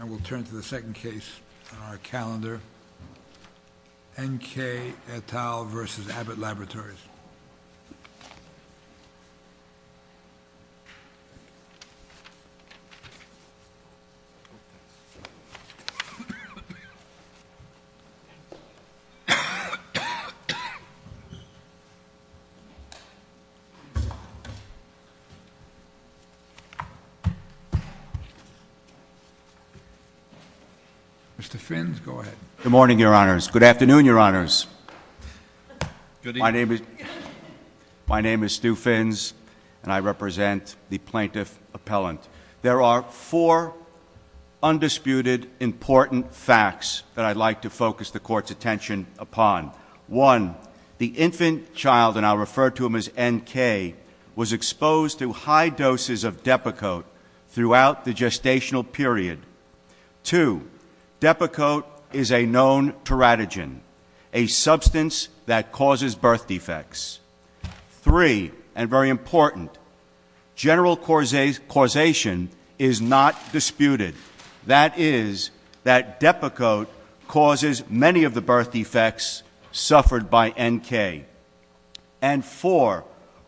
I will turn to the second case on our calendar, N. K. et al. v. Abbott Laboratories. Mr. Finns, go ahead. Good morning, Your Honors. Good afternoon, Your Honors. My name is Stu Finns, and I represent the Plaintiff Appellant. There are four undisputed important facts that I'd like to focus the Court's attention upon. One, the infant child, and I'll refer to him as N. K., was exposed to high doses of Depakote throughout the gestational period. Two, Depakote is a known teratogen, a substance that causes birth defects. Three, and very important, general causation is not disputed. That is, that Depakote causes many of the birth defects suffered by N. K. And four,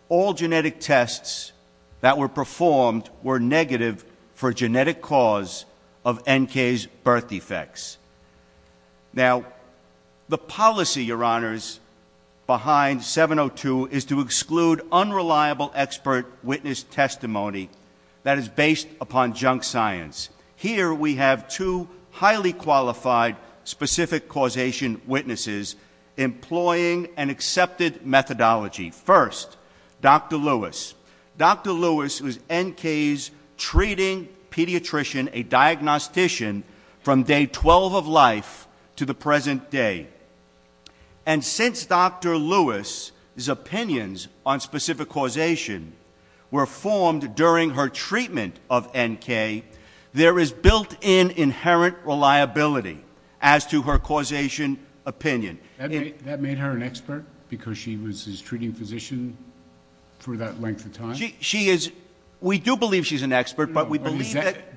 all genetic tests that were performed were negative for genetic cause of N. K.'s birth defects. Now, the policy, Your Honors, behind 702 is to exclude unreliable expert witness testimony that is based upon junk science. Here we have two highly qualified specific causation witnesses employing an accepted methodology. First, Dr. Lewis. Dr. Lewis was N. K.'s treating pediatrician, a diagnostician, from day 12 of life to the present day. And since Dr. Lewis' opinions on specific causation were formed during her treatment of N. K., there is built-in inherent reliability as to her causation opinion. That made her an expert because she was his treating physician for that length of time? She is — we do believe she's an expert, but we believe that —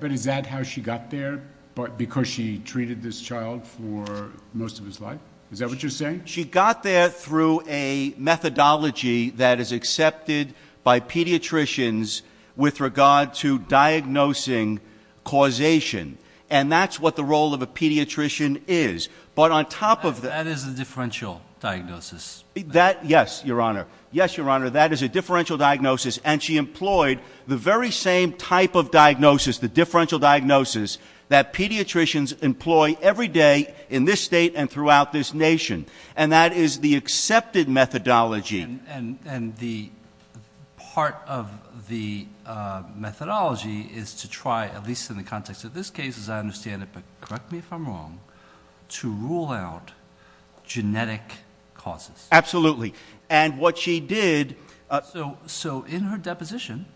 Is that what you're saying? She got there through a methodology that is accepted by pediatricians with regard to diagnosing causation. And that's what the role of a pediatrician is. But on top of the — That is a differential diagnosis. That — yes, Your Honor. Yes, Your Honor, that is a differential diagnosis. And she employed the very same type of diagnosis, the differential diagnosis, that pediatricians employ every day in this state and throughout this nation. And that is the accepted methodology. And the part of the methodology is to try, at least in the context of this case, as I understand it, but correct me if I'm wrong, to rule out genetic causes. Absolutely. And what she did — So in her deposition,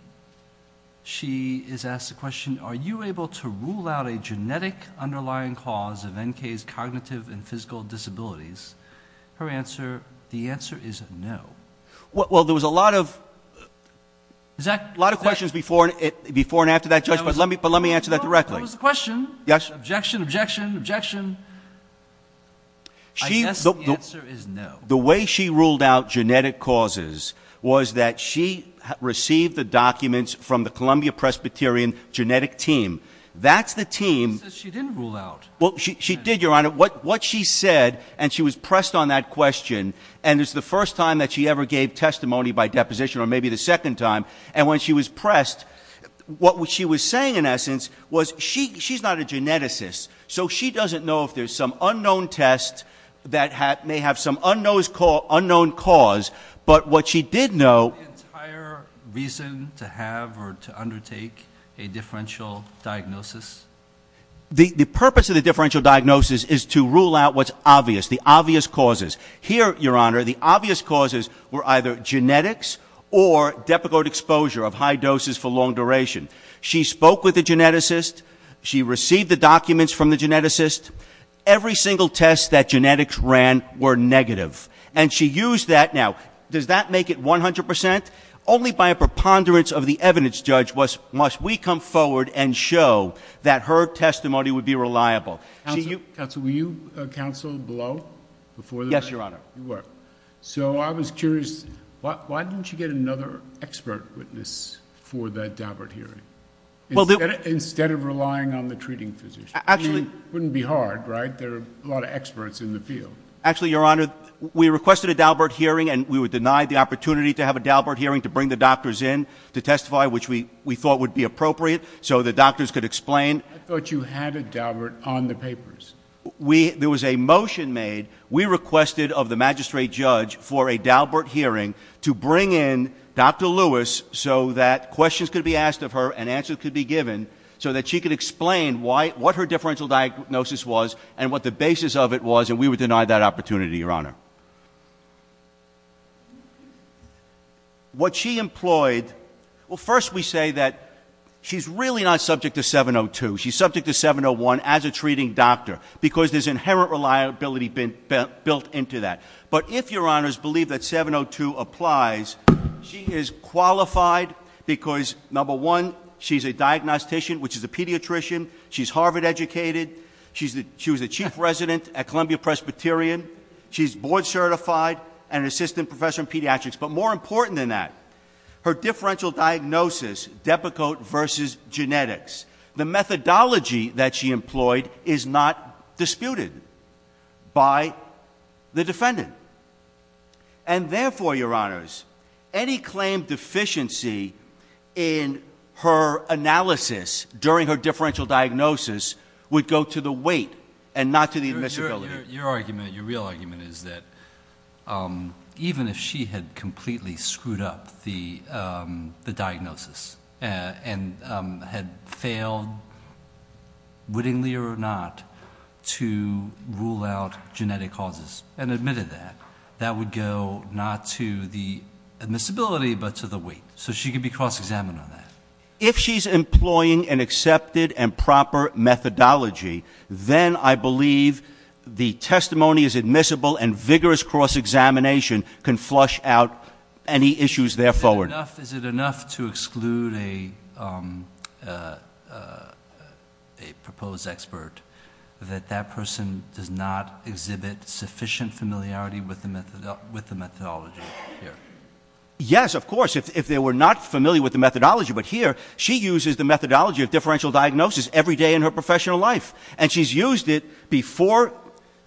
she is asked the question, are you able to rule out a genetic underlying cause of N.K.'s cognitive and physical disabilities? Her answer, the answer is no. Well, there was a lot of questions before and after that, Judge, but let me answer that directly. That was the question. Yes. Objection, objection, objection. I guess the answer is no. The way she ruled out genetic causes was that she received the documents from the Columbia-Presbyterian genetic team. That's the team — She says she didn't rule out. Well, she did, Your Honor. What she said, and she was pressed on that question, and it's the first time that she ever gave testimony by deposition or maybe the second time. And when she was pressed, what she was saying, in essence, was she's not a geneticist, so she doesn't know if there's some unknown test that may have some unknown cause. But what she did know — The entire reason to have or to undertake a differential diagnosis? The purpose of the differential diagnosis is to rule out what's obvious, the obvious causes. Here, Your Honor, the obvious causes were either genetics or Depakote exposure of high doses for long duration. She spoke with a geneticist. She received the documents from the geneticist. Every single test that genetics ran were negative, and she used that. Now, does that make it 100 percent? Only by a preponderance of the evidence, Judge, must we come forward and show that her testimony would be reliable. Counsel, were you counsel below? Yes, Your Honor. You were. So I was curious, why didn't you get another expert witness for that Daubert hearing? Instead of relying on the treating physician. It wouldn't be hard, right? There are a lot of experts in the field. Actually, Your Honor, we requested a Daubert hearing, and we were denied the opportunity to have a Daubert hearing to bring the doctors in to testify, which we thought would be appropriate so the doctors could explain. I thought you had a Daubert on the papers. There was a motion made. We requested of the magistrate judge for a Daubert hearing to bring in Dr. Lewis so that questions could be asked of her and answers could be given so that she could explain what her differential diagnosis was and what the basis of it was, and we were denied that opportunity, Your Honor. What she employed, well, first we say that she's really not subject to 702. She's subject to 701 as a treating doctor because there's inherent reliability built into that. But if Your Honors believe that 702 applies, she is qualified because, number one, she's a diagnostician, which is a pediatrician. She's Harvard educated. She was the chief resident at Columbia Presbyterian. She's board certified and an assistant professor in pediatrics. But more important than that, her differential diagnosis, Depakote versus genetics, the methodology that she employed is not disputed by the defendant. And therefore, Your Honors, any claim deficiency in her analysis during her differential diagnosis would go to the weight and not to the admissibility. Your argument, your real argument, is that even if she had completely screwed up the diagnosis and had failed, wittingly or not, to rule out genetic causes and admitted that, that would go not to the admissibility but to the weight, so she could be cross-examined on that. If she's employing an accepted and proper methodology, then I believe the testimony is admissible and vigorous cross-examination can flush out any issues there forward. Is it enough to exclude a proposed expert that that person does not exhibit sufficient familiarity with the methodology here? Yes, of course, if they were not familiar with the methodology. But here, she uses the methodology of differential diagnosis every day in her professional life. And she's used it before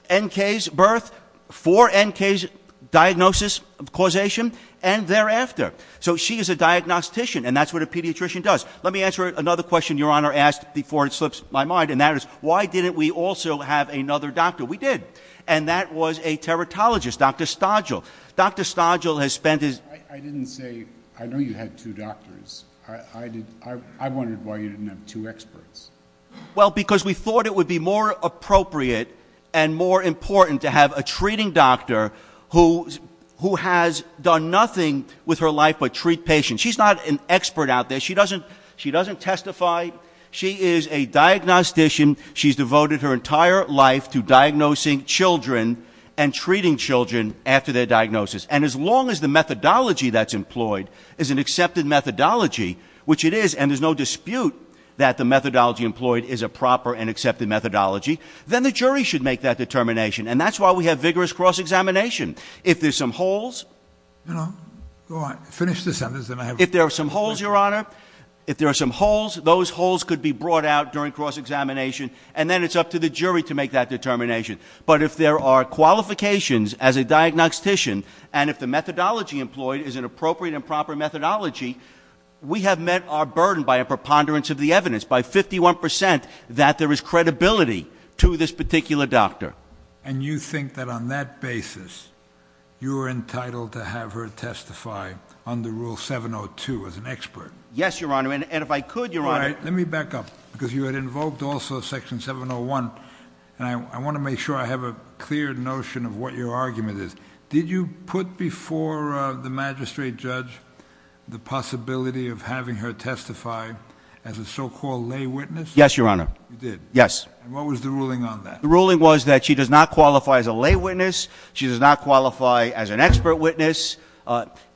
N.K.'s birth, for N.K.'s diagnosis causation, and thereafter. So she is a diagnostician, and that's what a pediatrician does. Let me answer another question Your Honor asked before it slips my mind, and that is, why didn't we also have another doctor? We did. And that was a teratologist, Dr. Stodgill. Dr. Stodgill has spent his- I didn't say, I know you had two doctors. I wondered why you didn't have two experts. Well, because we thought it would be more appropriate and more important to have a treating doctor who has done nothing with her life but treat patients. She's not an expert out there. She doesn't testify. She is a diagnostician. She's devoted her entire life to diagnosing children and treating children after their diagnosis. And as long as the methodology that's employed is an accepted methodology, which it is, and there's no dispute that the methodology employed is a proper and accepted methodology, then the jury should make that determination. And that's why we have vigorous cross-examination. If there's some holes- All right, finish this sentence. If there are some holes, Your Honor, if there are some holes, those holes could be brought out during cross-examination, and then it's up to the jury to make that determination. But if there are qualifications as a diagnostician, and if the methodology employed is an appropriate and proper methodology, we have met our burden by a preponderance of the evidence, by 51% that there is credibility to this particular doctor. And you think that on that basis, you're entitled to have her testify under Rule 702 as an expert? Yes, Your Honor, and if I could, Your Honor- All right, let me back up, because you had invoked also Section 701, and I want to make sure I have a clear notion of what your argument is. Did you put before the magistrate judge the possibility of having her testify as a so-called lay witness? Yes, Your Honor. You did? Yes. And what was the ruling on that? The ruling was that she does not qualify as a lay witness, she does not qualify as an expert witness,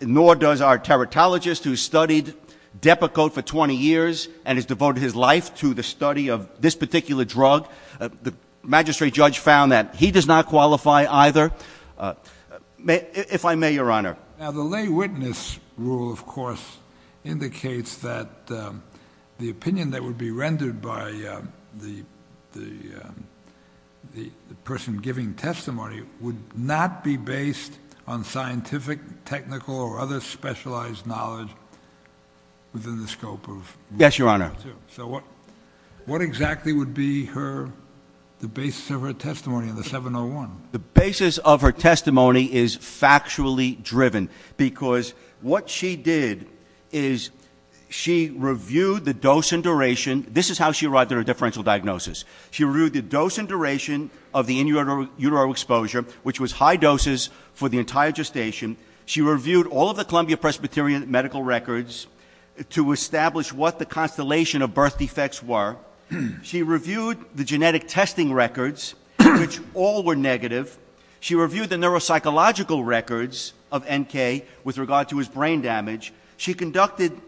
nor does our teratologist who studied Depakote for 20 years and has devoted his life to the study of this particular drug. The magistrate judge found that he does not qualify either. If I may, Your Honor- Now, the lay witness rule, of course, indicates that the opinion that would be rendered by the person giving testimony would not be based on scientific, technical, or other specialized knowledge within the scope of Rule 702. Yes, Your Honor. So what exactly would be the basis of her testimony in the 701? The basis of her testimony is factually driven, because what she did is she reviewed the dose and duration- this is how she arrived at her differential diagnosis- she reviewed the dose and duration of the in utero exposure, which was high doses for the entire gestation. She reviewed all of the Columbia Presbyterian medical records to establish what the constellation of birth defects were. She reviewed the genetic testing records, which all were negative. She reviewed the neuropsychological records of N.K. with regard to his brain damage. She conducted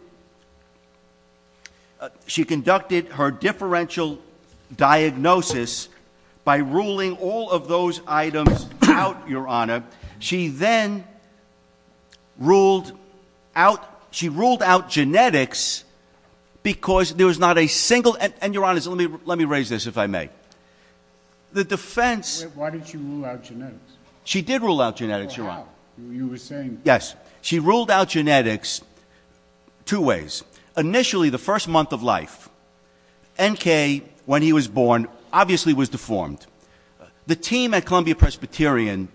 her differential diagnosis by ruling all of those items out, Your Honor. She then ruled out genetics because there was not a single- and Your Honor, let me raise this, if I may. The defense- Why did she rule out genetics? She did rule out genetics, Your Honor. You were saying- Yes. She ruled out genetics two ways. Initially, the first month of life, N.K., when he was born, obviously was deformed. The team at Columbia Presbyterian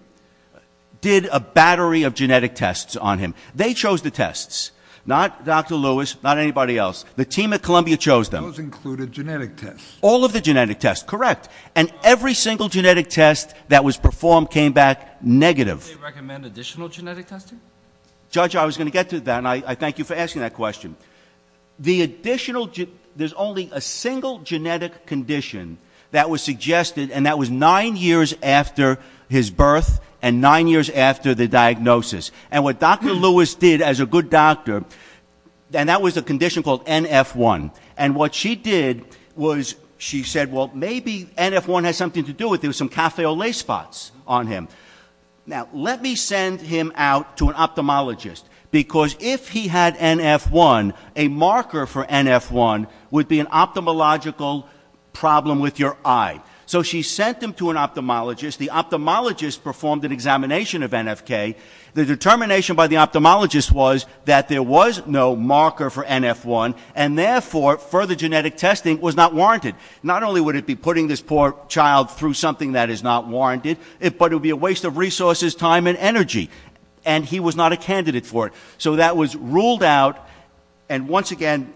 did a battery of genetic tests on him. They chose the tests, not Dr. Lewis, not anybody else. The team at Columbia chose them. Those included genetic tests. All of the genetic tests, correct. And every single genetic test that was performed came back negative. Did they recommend additional genetic testing? Judge, I was going to get to that, and I thank you for asking that question. The additional- There's only a single genetic condition that was suggested, and that was nine years after his birth and nine years after the diagnosis. And what Dr. Lewis did as a good doctor, and that was a condition called NF1, and what she did was she said, well, maybe NF1 has something to do with it. There were some café au lait spots on him. Now, let me send him out to an ophthalmologist, because if he had NF1, a marker for NF1 would be an ophthalmological problem with your eye. So she sent him to an ophthalmologist. The ophthalmologist performed an examination of N.F.K. The determination by the ophthalmologist was that there was no marker for NF1, and therefore further genetic testing was not warranted. Not only would it be putting this poor child through something that is not warranted, but it would be a waste of resources, time, and energy, and he was not a candidate for it. So that was ruled out, and once again,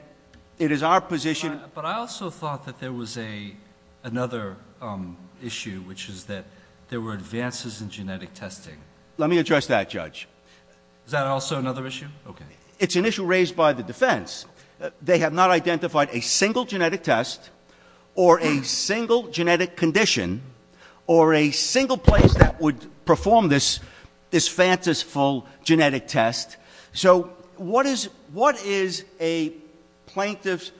it is our position- But I also thought that there was another issue, which is that there were advances in genetic testing. Let me address that, Judge. Is that also another issue? Okay. It's an issue raised by the defense. They have not identified a single genetic test or a single genetic condition or a single place that would perform this fanciful genetic test. So what is a plaintiff's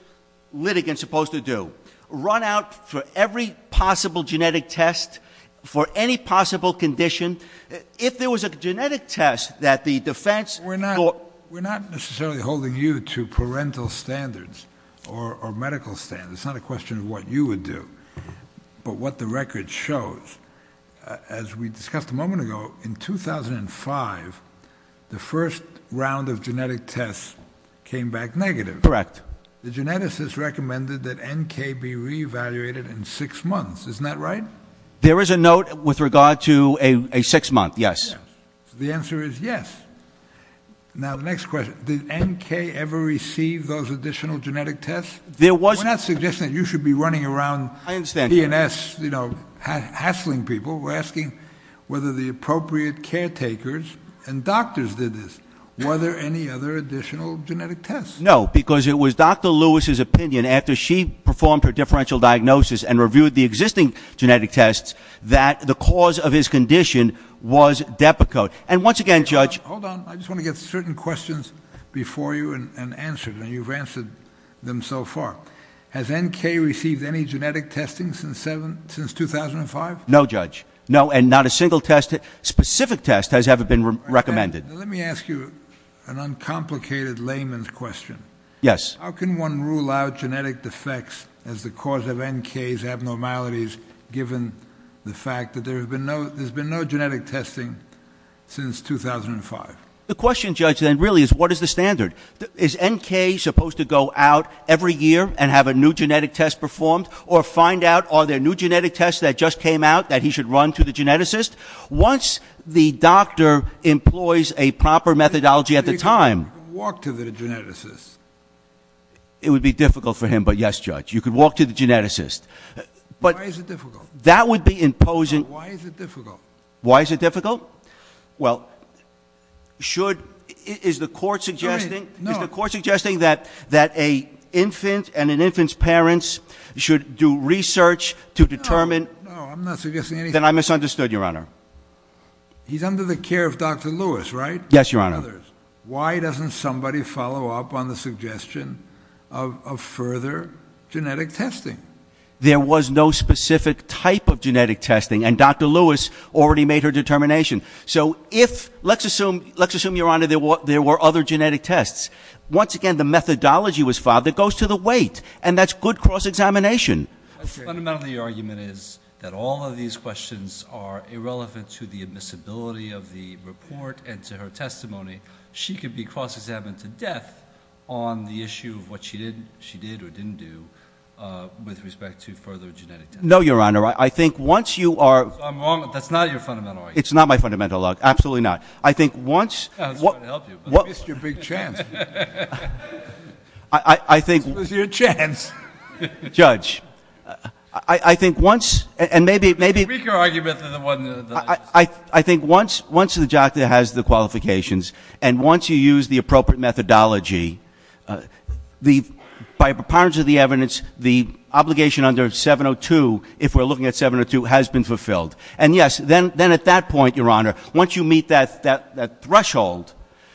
litigant supposed to do? Run out for every possible genetic test for any possible condition? If there was a genetic test that the defense- We're not necessarily holding you to parental standards or medical standards. It's not a question of what you would do, but what the record shows. As we discussed a moment ago, in 2005, the first round of genetic tests came back negative. Correct. The geneticists recommended that NK be reevaluated in six months. Isn't that right? There is a note with regard to a six-month, yes. So the answer is yes. Now, the next question, did NK ever receive those additional genetic tests? We're not suggesting that you should be running around P&S hassling people. We're asking whether the appropriate caretakers and doctors did this. Were there any other additional genetic tests? No, because it was Dr. Lewis's opinion, after she performed her differential diagnosis and reviewed the existing genetic tests, that the cause of his condition was Depakote. And once again, Judge- Hold on. I just want to get certain questions before you and answer them. You've answered them so far. Has NK received any genetic testing since 2005? No, Judge. No, and not a single test, specific test, has ever been recommended. Let me ask you an uncomplicated layman's question. Yes. How can one rule out genetic defects as the cause of NK's abnormalities, given the fact that there's been no genetic testing since 2005? The question, Judge, then really is what is the standard? Is NK supposed to go out every year and have a new genetic test performed or find out are there new genetic tests that just came out that he should run to the geneticist? Once the doctor employs a proper methodology at the time- He could walk to the geneticist. It would be difficult for him, but yes, Judge. You could walk to the geneticist. Why is it difficult? That would be imposing- Why is it difficult? Why is it difficult? Well, is the court suggesting that an infant and an infant's parents should do research to determine- No, no, I'm not suggesting anything. Then I misunderstood, Your Honor. He's under the care of Dr. Lewis, right? Yes, Your Honor. Why doesn't somebody follow up on the suggestion of further genetic testing? There was no specific type of genetic testing, and Dr. Lewis already made her determination. So let's assume, Your Honor, there were other genetic tests. Once again, the methodology was filed that goes to the weight, and that's good cross-examination. Fundamentally, your argument is that all of these questions are irrelevant to the admissibility of the report and to her testimony. She could be cross-examined to death on the issue of what she did or didn't do with respect to further genetic testing. No, Your Honor. I think once you are- I'm wrong. That's not your fundamental argument. It's not my fundamental argument. Absolutely not. I think once- I was trying to help you, but I missed your big chance. I think- This was your chance. Judge, I think once- The weaker argument than the one- I think once the doctor has the qualifications and once you use the appropriate methodology, by the power of the evidence, the obligation under 702, if we're looking at 702, has been fulfilled. And yes, then at that point, Your Honor, once you meet that threshold,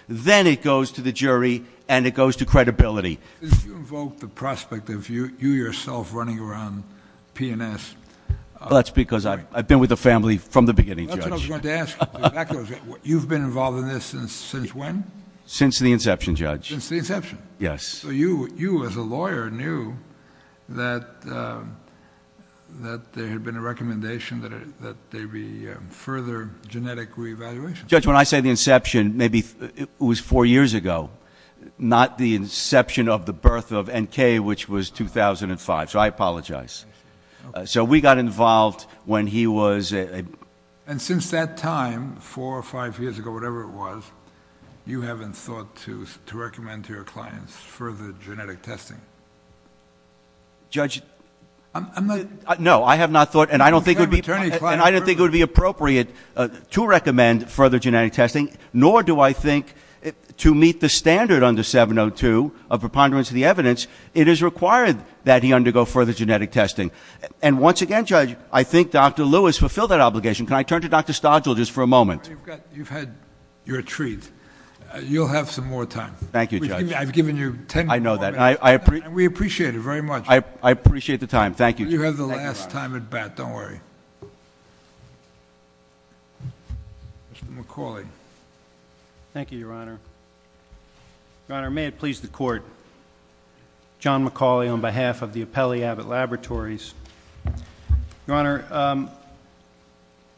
then it goes to the jury and it goes to credibility. Did you invoke the prospect of you yourself running around P&S? That's because I've been with the family from the beginning, Judge. That's what I was going to ask. You've been involved in this since when? Since the inception, Judge. Since the inception. Yes. So you, as a lawyer, knew that there had been a recommendation that there be further genetic reevaluation. Judge, when I say the inception, maybe it was four years ago, not the inception of the birth of NK, which was 2005. So I apologize. So we got involved when he was- And since that time, four or five years ago, whatever it was, you haven't thought to recommend to your clients further genetic testing? Judge- I'm not- No, I have not thought, and I don't think it would be appropriate to recommend further genetic testing, nor do I think to meet the standard under 702 of preponderance of the evidence, it is required that he undergo further genetic testing. And once again, Judge, I think Dr. Lewis fulfilled that obligation. Can I turn to Dr. Stodgill just for a moment? You've had your treat. You'll have some more time. Thank you, Judge. I've given you ten more minutes. I know that. And we appreciate it very much. I appreciate the time. Thank you, Judge. You have the last time at bat. Don't worry. Mr. McCauley. Thank you, Your Honor. Your Honor, may it please the Court. John McCauley on behalf of the Appellee Abbott Laboratories. Your Honor,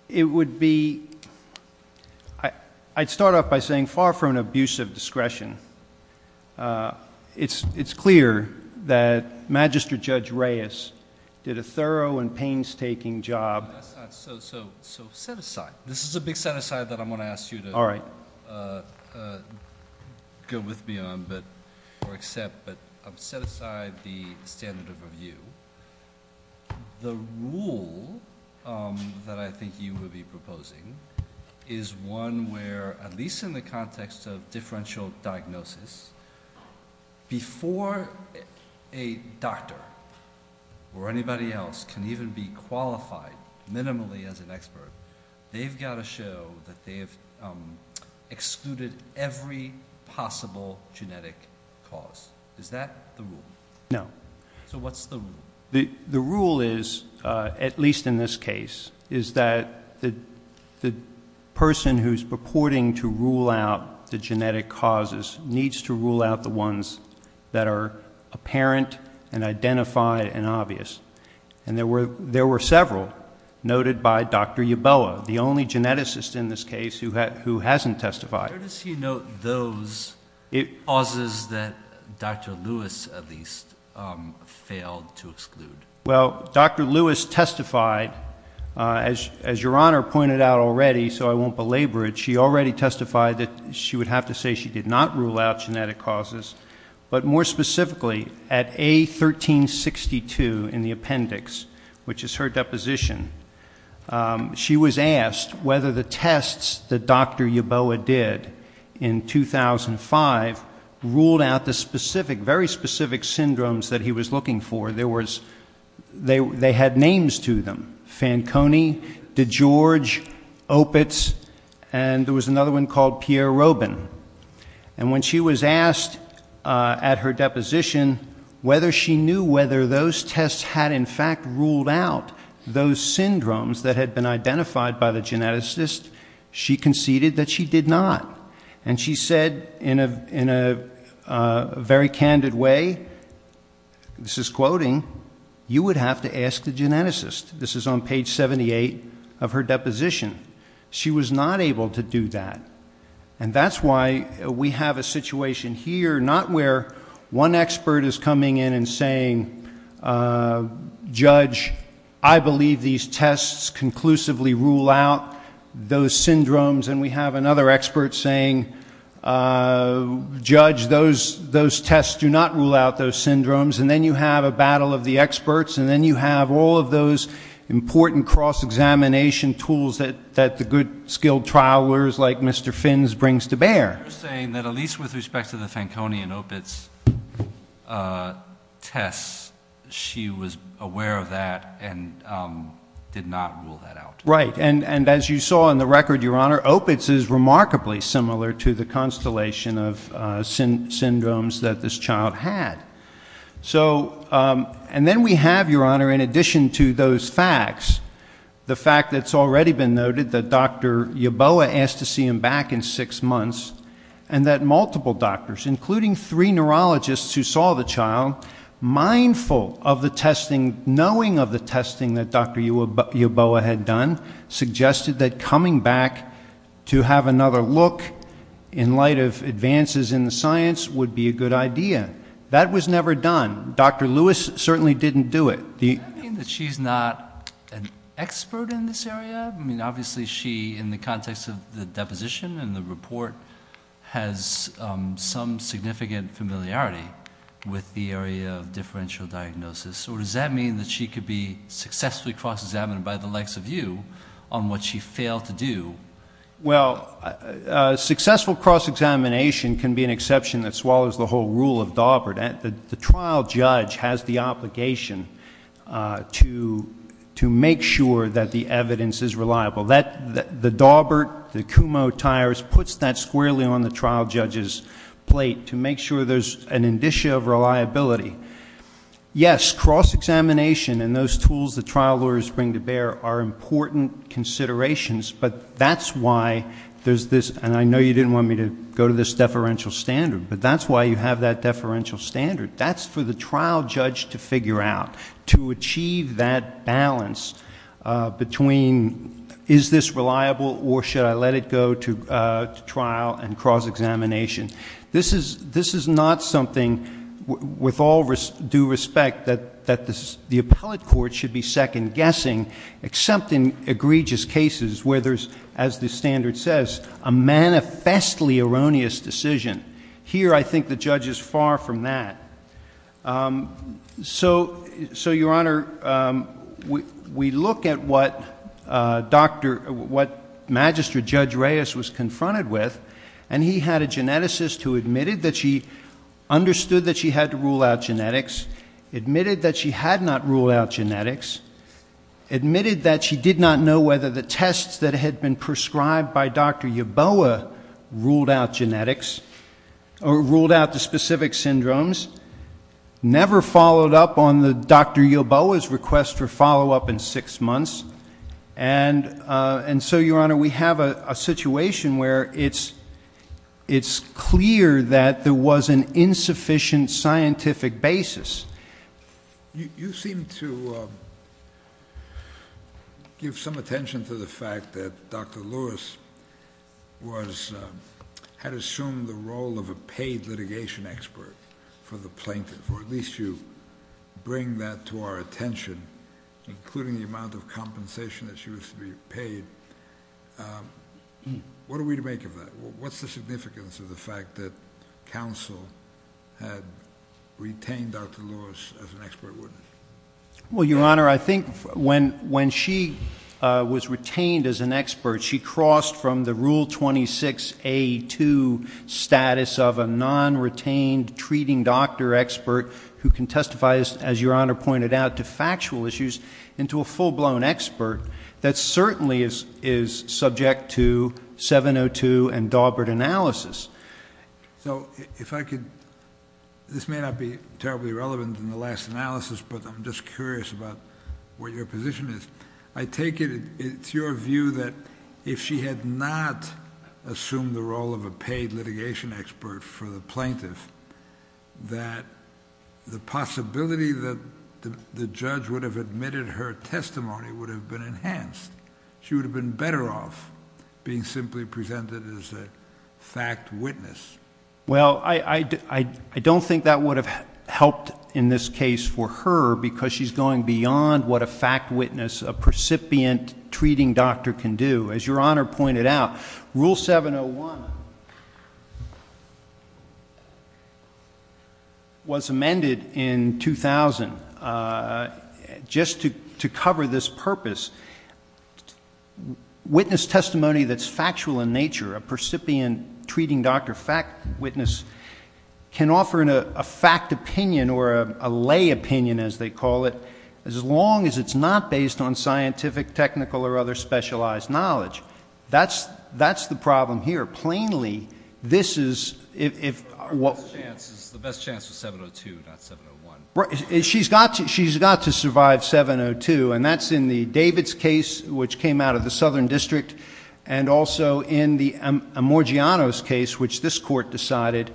it would be-I'd start off by saying far from an abuse of discretion, it's clear that Magistrate Judge Reyes did a thorough and painstaking job- So set aside. This is a big set aside that I'm going to ask you to go with me on or accept, but set aside the standard of review. The rule that I think you would be proposing is one where, at least in the context of differential diagnosis, before a doctor or anybody else can even be qualified minimally as an expert, they've got to show that they have excluded every possible genetic cause. Is that the rule? No. So what's the rule? The rule is, at least in this case, is that the person who is purporting to rule out the genetic causes and there were several noted by Dr. Yeboah, the only geneticist in this case who hasn't testified. Where does he note those causes that Dr. Lewis at least failed to exclude? Well, Dr. Lewis testified, as Your Honor pointed out already, so I won't belabor it, she already testified that she would have to say she did not rule out genetic causes, but more specifically, at A1362 in the appendix, which is her deposition, she was asked whether the tests that Dr. Yeboah did in 2005 ruled out the very specific syndromes that he was looking for. They had names to them, Fanconi, DeGeorge, Opitz, and there was another one called Pierre Robin. And when she was asked at her deposition whether she knew whether those tests had in fact ruled out those syndromes that had been identified by the geneticist, she conceded that she did not. And she said in a very candid way, this is quoting, you would have to ask the geneticist. This is on page 78 of her deposition. She was not able to do that. And that's why we have a situation here, not where one expert is coming in and saying, Judge, I believe these tests conclusively rule out those syndromes, and we have another expert saying, Judge, those tests do not rule out those syndromes, and then you have a battle of the experts, and then you have all of those important cross-examination tools that the good skilled trialers like Mr. Fins brings to bear. You're saying that at least with respect to the Fanconi and Opitz tests, she was aware of that and did not rule that out. Right. And as you saw in the record, Your Honor, Opitz is remarkably similar to the constellation of syndromes that this child had. And then we have, Your Honor, in addition to those facts, the fact that's already been noted, that Dr. Yeboah asked to see him back in six months, and that multiple doctors, including three neurologists who saw the child, mindful of the testing, knowing of the testing that Dr. Yeboah had done, suggested that coming back to have another look in light of advances in the science would be a good idea. That was never done. Dr. Lewis certainly didn't do it. Does that mean that she's not an expert in this area? I mean, obviously she, in the context of the deposition and the report, has some significant familiarity with the area of differential diagnosis. Or does that mean that she could be successfully cross-examined by the likes of you on what she failed to do? Well, successful cross-examination can be an exception that swallows the whole rule of Daubert. The trial judge has the obligation to make sure that the evidence is reliable. The Daubert, the Kumho tires, puts that squarely on the trial judge's plate to make sure there's an indicia of reliability. Yes, cross-examination and those tools the trial lawyers bring to bear are important considerations, but that's why there's this, and I know you didn't want me to go to this deferential standard, but that's why you have that deferential standard. That's for the trial judge to figure out, to achieve that balance between is this reliable or should I let it go to trial and cross-examination. This is not something, with all due respect, that the appellate court should be second-guessing, except in egregious cases where there's, as the standard says, a manifestly erroneous decision. Here, I think the judge is far from that. So, Your Honor, we look at what Magistrate Judge Reyes was confronted with, and he had a geneticist who admitted that she understood that she had to rule out genetics, admitted that she had not ruled out genetics, admitted that she did not know whether the tests that had been prescribed by Dr. Yoboa ruled out genetics or ruled out the specific syndromes, never followed up on Dr. Yoboa's request for follow-up in six months, and so, Your Honor, we have a situation where it's clear that there was an insufficient scientific basis. You seem to give some attention to the fact that Dr. Lewis had assumed the role of a paid litigation expert for the plaintiff, or at least you bring that to our attention, including the amount of compensation that she was to be paid. What are we to make of that? What's the significance of the fact that counsel had retained Dr. Lewis as an expert witness? Well, Your Honor, I think when she was retained as an expert, she crossed from the Rule 26A2 status of a non-retained treating doctor expert who can testify, as Your Honor pointed out, to factual issues, into a full-blown expert that certainly is subject to 702 and Dawbert analysis. So if I could, this may not be terribly relevant in the last analysis, but I'm just curious about what your position is. I take it it's your view that if she had not assumed the role of a paid litigation expert for the plaintiff, that the possibility that the judge would have admitted her testimony would have been enhanced. She would have been better off being simply presented as a fact witness. Well, I don't think that would have helped in this case for her because she's going beyond what a fact witness, a precipient treating doctor, can do. As Your Honor pointed out, Rule 701 was amended in 2000 just to cover this purpose. Witness testimony that's factual in nature, a precipient treating doctor fact witness, can offer a fact opinion or a lay opinion, as they call it, as long as it's not based on scientific, technical, or other specialized knowledge. That's the problem here. Plainly, this is— The best chance was 702, not 701. She's got to survive 702, and that's in the Davids case, which came out of the Southern District, and also in the Amorgianos case, which this Court decided,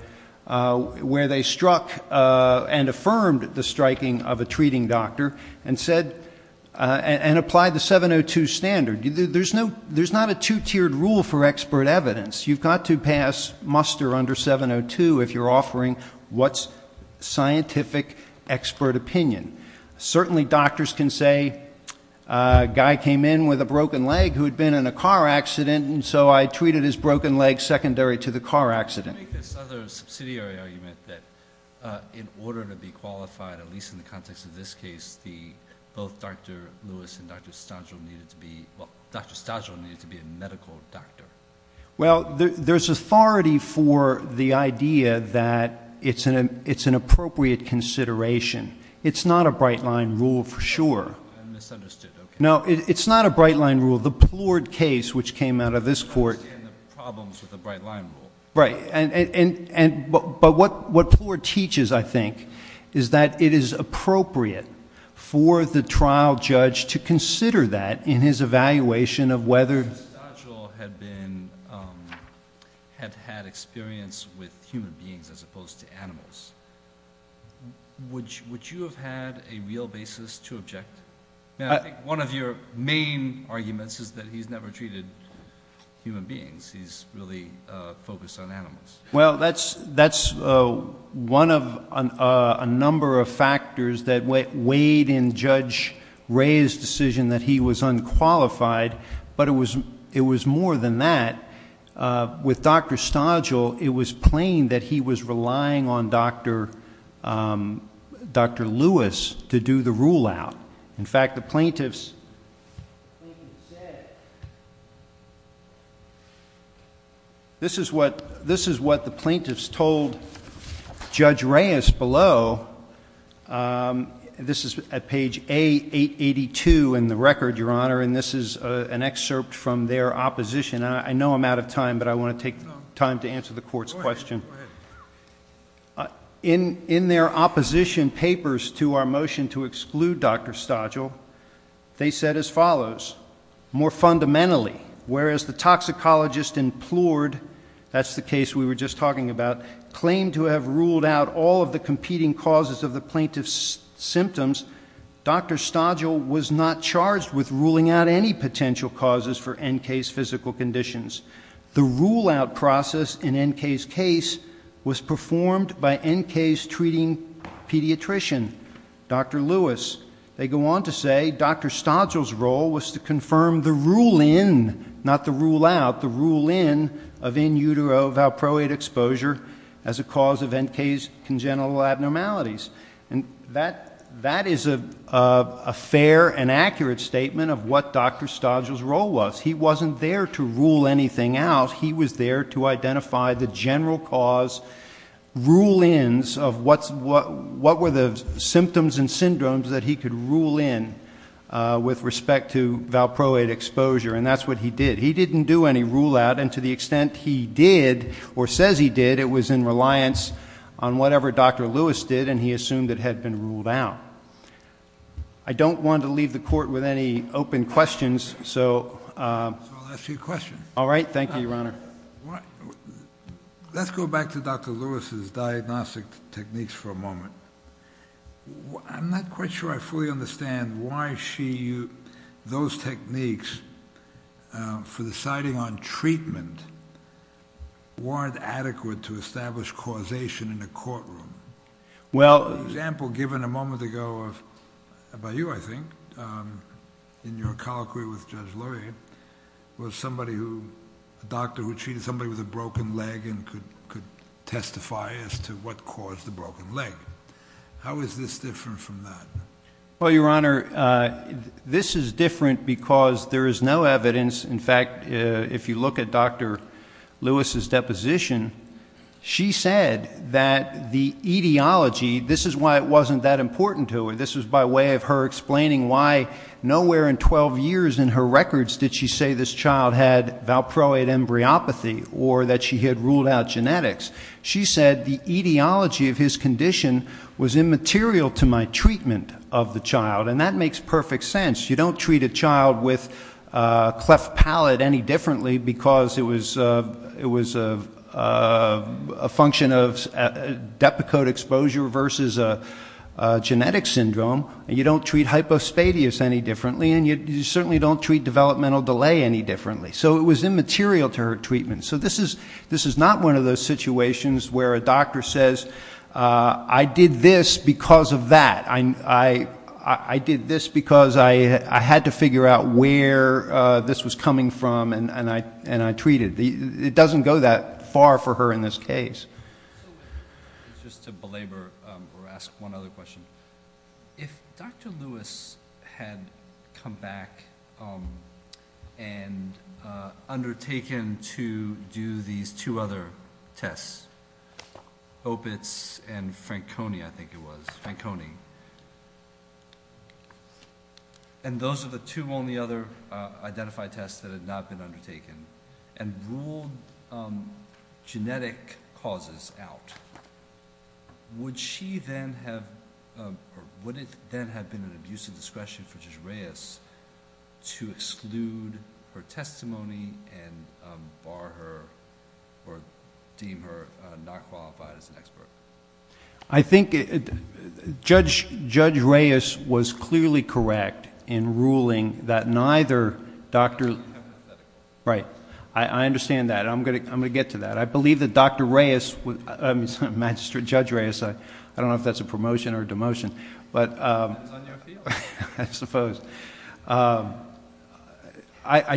where they struck and affirmed the striking of a treating doctor and applied the 702 standard. There's not a two-tiered rule for expert evidence. You've got to pass muster under 702 if you're offering what's scientific expert opinion. Certainly doctors can say, a guy came in with a broken leg who had been in a car accident, and so I treated his broken leg secondary to the car accident. Can you make this other subsidiary argument that in order to be qualified, at least in the context of this case, both Dr. Lewis and Dr. Stajil needed to be— well, Dr. Stajil needed to be a medical doctor? Well, there's authority for the idea that it's an appropriate consideration. It's not a bright-line rule for sure. I misunderstood. Okay. No, it's not a bright-line rule. The Plourd case, which came out of this Court— I understand the problems with the bright-line rule. Right, but what Plourd teaches, I think, is that it is appropriate for the trial judge to consider that in his evaluation of whether— If Dr. Stajil had had experience with human beings as opposed to animals, would you have had a real basis to object? I think one of your main arguments is that he's never treated human beings. He's really focused on animals. Well, that's one of a number of factors that weighed in Judge Rea's decision that he was unqualified, but it was more than that. With Dr. Stajil, it was plain that he was relying on Dr. Lewis to do the rule-out. In fact, the plaintiffs said— This is what the plaintiffs told Judge Rea below. This is at page 882 in the record, Your Honor, and this is an excerpt from their opposition. I know I'm out of time, but I want to take time to answer the Court's question. Go ahead. In their opposition papers to our motion to exclude Dr. Stajil, they said as follows. More fundamentally, whereas the toxicologist implored—that's the case we were just talking about— claimed to have ruled out all of the competing causes of the plaintiff's symptoms, Dr. Stajil was not charged with ruling out any potential causes for N.K.'s physical conditions. The rule-out process in N.K.'s case was performed by N.K.'s treating pediatrician, Dr. Lewis. They go on to say Dr. Stajil's role was to confirm the rule-in, not the rule-out, the rule-in of in utero valproate exposure as a cause of N.K.'s congenital abnormalities. That is a fair and accurate statement of what Dr. Stajil's role was. He wasn't there to rule anything out. He was there to identify the general cause rule-ins of what were the symptoms and syndromes that he could rule in with respect to valproate exposure, and that's what he did. He didn't do any rule-out, and to the extent he did or says he did, it was in reliance on whatever Dr. Lewis did, and he assumed it had been ruled out. I don't want to leave the Court with any open questions. So I'll ask you a question. All right. Thank you, Your Honor. Let's go back to Dr. Lewis's diagnostic techniques for a moment. I'm not quite sure I fully understand why those techniques for deciding on treatment weren't adequate to establish causation in a courtroom. An example given a moment ago by you, I think, in your colloquy with Judge Lurie, was a doctor who treated somebody with a broken leg and could testify as to what caused the broken leg. How is this different from that? Well, Your Honor, this is different because there is no evidence. In fact, if you look at Dr. Lewis's deposition, she said that the etiology, this is why it wasn't that important to her, this was by way of her explaining why nowhere in 12 years in her records did she say this child had valproate embryopathy or that she had ruled out genetics. She said the etiology of his condition was immaterial to my treatment of the child, and that makes perfect sense. You don't treat a child with cleft palate any differently because it was a function of depakote exposure versus a genetic syndrome. You don't treat hypospadias any differently, and you certainly don't treat developmental delay any differently. So it was immaterial to her treatment. So this is not one of those situations where a doctor says, I did this because of that. I did this because I had to figure out where this was coming from and I treated. It doesn't go that far for her in this case. Just to belabor or ask one other question, if Dr. Lewis had come back and undertaken to do these two other tests, Opitz and Franconi, I think it was, Franconi, and those are the two only other identified tests that had not been undertaken, and ruled genetic causes out, would it then have been an abusive discretion for Judge Reyes to exclude her testimony and bar her or deem her not qualified as an expert? I think Judge Reyes was clearly correct in ruling that neither Dr.... Right. I understand that. I'm going to get to that. I believe that Dr. Reyes, I mean, Judge Reyes, I don't know if that's a promotion or a demotion, but... It's on your field. I suppose. I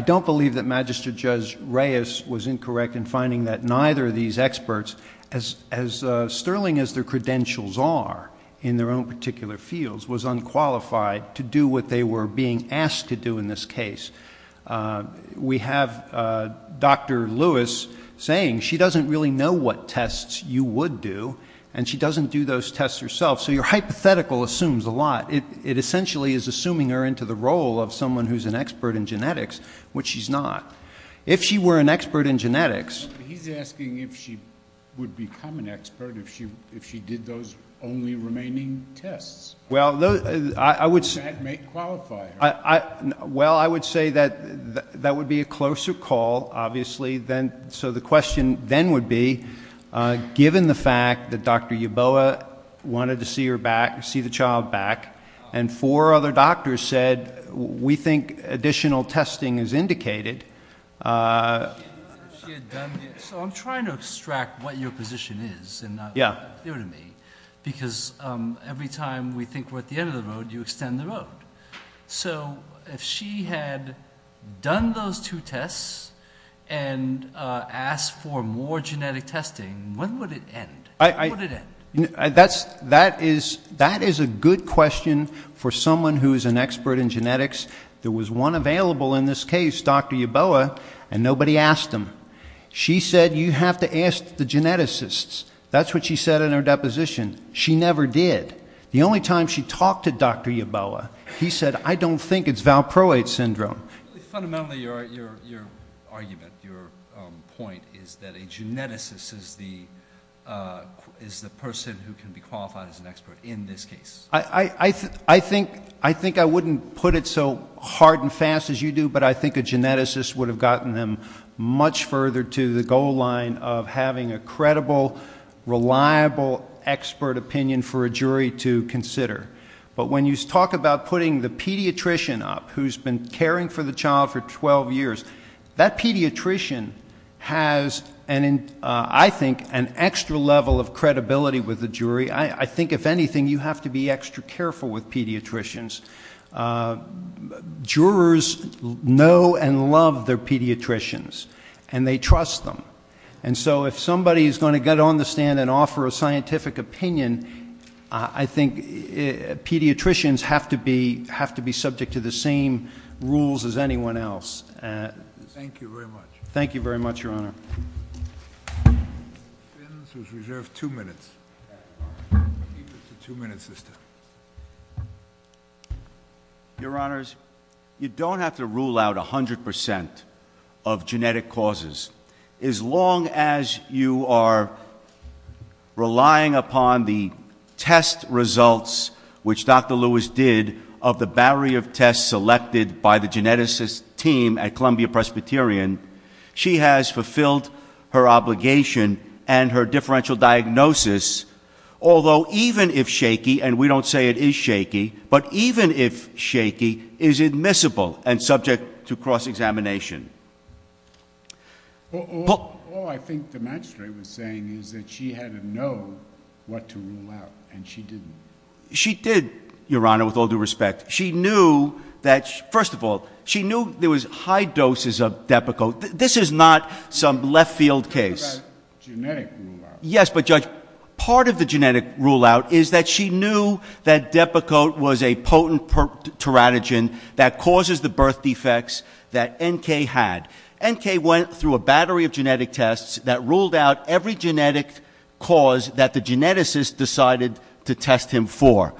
don't believe that Magistrate Judge Reyes was incorrect in finding that neither of these experts, as sterling as their credentials are in their own particular fields, was unqualified to do what they were being asked to do in this case. We have Dr. Lewis saying she doesn't really know what tests you would do, and she doesn't do those tests herself. So your hypothetical assumes a lot. It essentially is assuming her into the role of someone who's an expert in genetics, which she's not. If she were an expert in genetics... He's asking if she would become an expert if she did those only remaining tests. Well, I would say... That may qualify her. Well, I would say that that would be a closer call, obviously. So the question then would be, given the fact that Dr. Yeboah wanted to see the child back and four other doctors said, we think additional testing is indicated... So I'm trying to extract what your position is and not... Yeah. Because every time we think we're at the end of the road, you extend the road. So if she had done those two tests and asked for more genetic testing, when would it end? That is a good question for someone who is an expert in genetics. There was one available in this case, Dr. Yeboah, and nobody asked him. She said, you have to ask the geneticists. That's what she said in her deposition. She never did. The only time she talked to Dr. Yeboah, he said, I don't think it's Valproate syndrome. Fundamentally, your argument, your point, is that a geneticist is the person who can be qualified as an expert in this case. I think I wouldn't put it so hard and fast as you do, but I think a geneticist would have gotten them much further to the goal line of having a credible, reliable expert opinion for a jury to consider. But when you talk about putting the pediatrician up, who's been caring for the child for 12 years, that pediatrician has, I think, an extra level of credibility with the jury. I think, if anything, you have to be extra careful with pediatricians. Jurors know and love their pediatricians, and they trust them. And so if somebody is going to get on the stand and offer a scientific opinion, I think pediatricians have to be subject to the same rules as anyone else. Thank you very much. Thank you very much, Your Honor. Ms. Fins was reserved two minutes. She's a two-minute sister. Your Honors, you don't have to rule out 100% of genetic causes. As long as you are relying upon the test results, which Dr. Lewis did of the barrier of tests selected by the geneticist team at Columbia Presbyterian, she has fulfilled her obligation and her differential diagnosis, although even if shaky, and we don't say it is shaky, but even if shaky, is admissible and subject to cross-examination. All I think the magistrate was saying is that she had to know what to rule out, and she didn't. She did, Your Honor, with all due respect. She knew that, first of all, she knew there was high doses of Depakote. This is not some left-field case. You're talking about genetic rule-out. Yes, but, Judge, part of the genetic rule-out is that she knew that Depakote was a potent teratogen that causes the birth defects that N.K. had. N.K. went through a battery of genetic tests that ruled out every genetic cause that the geneticist decided to test him for.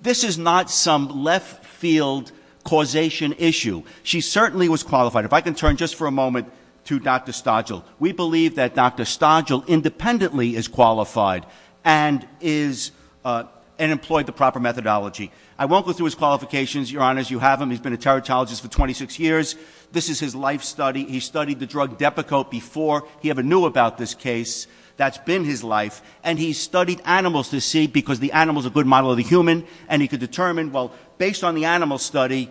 This is not some left-field causation issue. She certainly was qualified. If I can turn just for a moment to Dr. Stodgill. We believe that Dr. Stodgill independently is qualified and employed the proper methodology. I won't go through his qualifications, Your Honor, as you have him. He's been a teratologist for 26 years. This is his life study. He studied the drug Depakote before he ever knew about this case. That's been his life, and he studied animals to see, because the animal's a good model of the human, and he could determine, well, based on the animal study,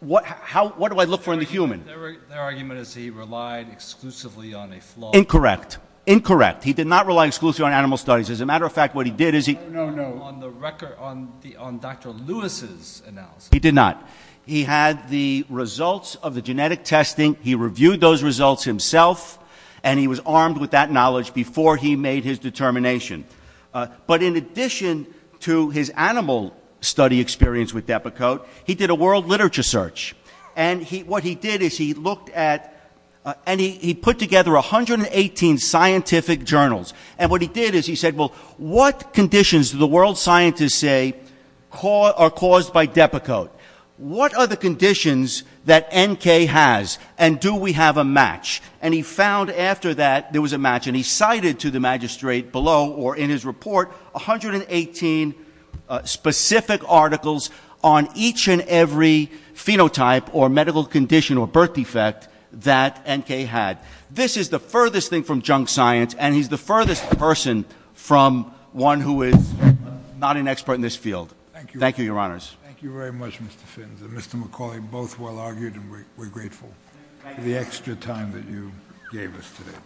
what do I look for in the human? Their argument is he relied exclusively on a flawed model. Incorrect. Incorrect. He did not rely exclusively on animal studies. As a matter of fact, what he did is he... No, no, no. On the record, on Dr. Lewis's analysis. He did not. He had the results of the genetic testing. He reviewed those results himself, and he was armed with that knowledge before he made his determination. But in addition to his animal study experience with Depakote, he did a world literature search, and what he did is he looked at... And he put together 118 scientific journals, and what he did is he said, well, what conditions do the world scientists say are caused by Depakote? What are the conditions that NK has, and do we have a match? And he found after that there was a match, and he cited to the magistrate below or in his report 118 specific articles on each and every phenotype or medical condition or birth defect that NK had. This is the furthest thing from junk science, and he's the furthest person from one who is not an expert in this field. Thank you. Thank you, Your Honors. Thank you very much, Mr. Fins. Mr. McCauley, both well argued, and we're grateful for the extra time that you gave us today.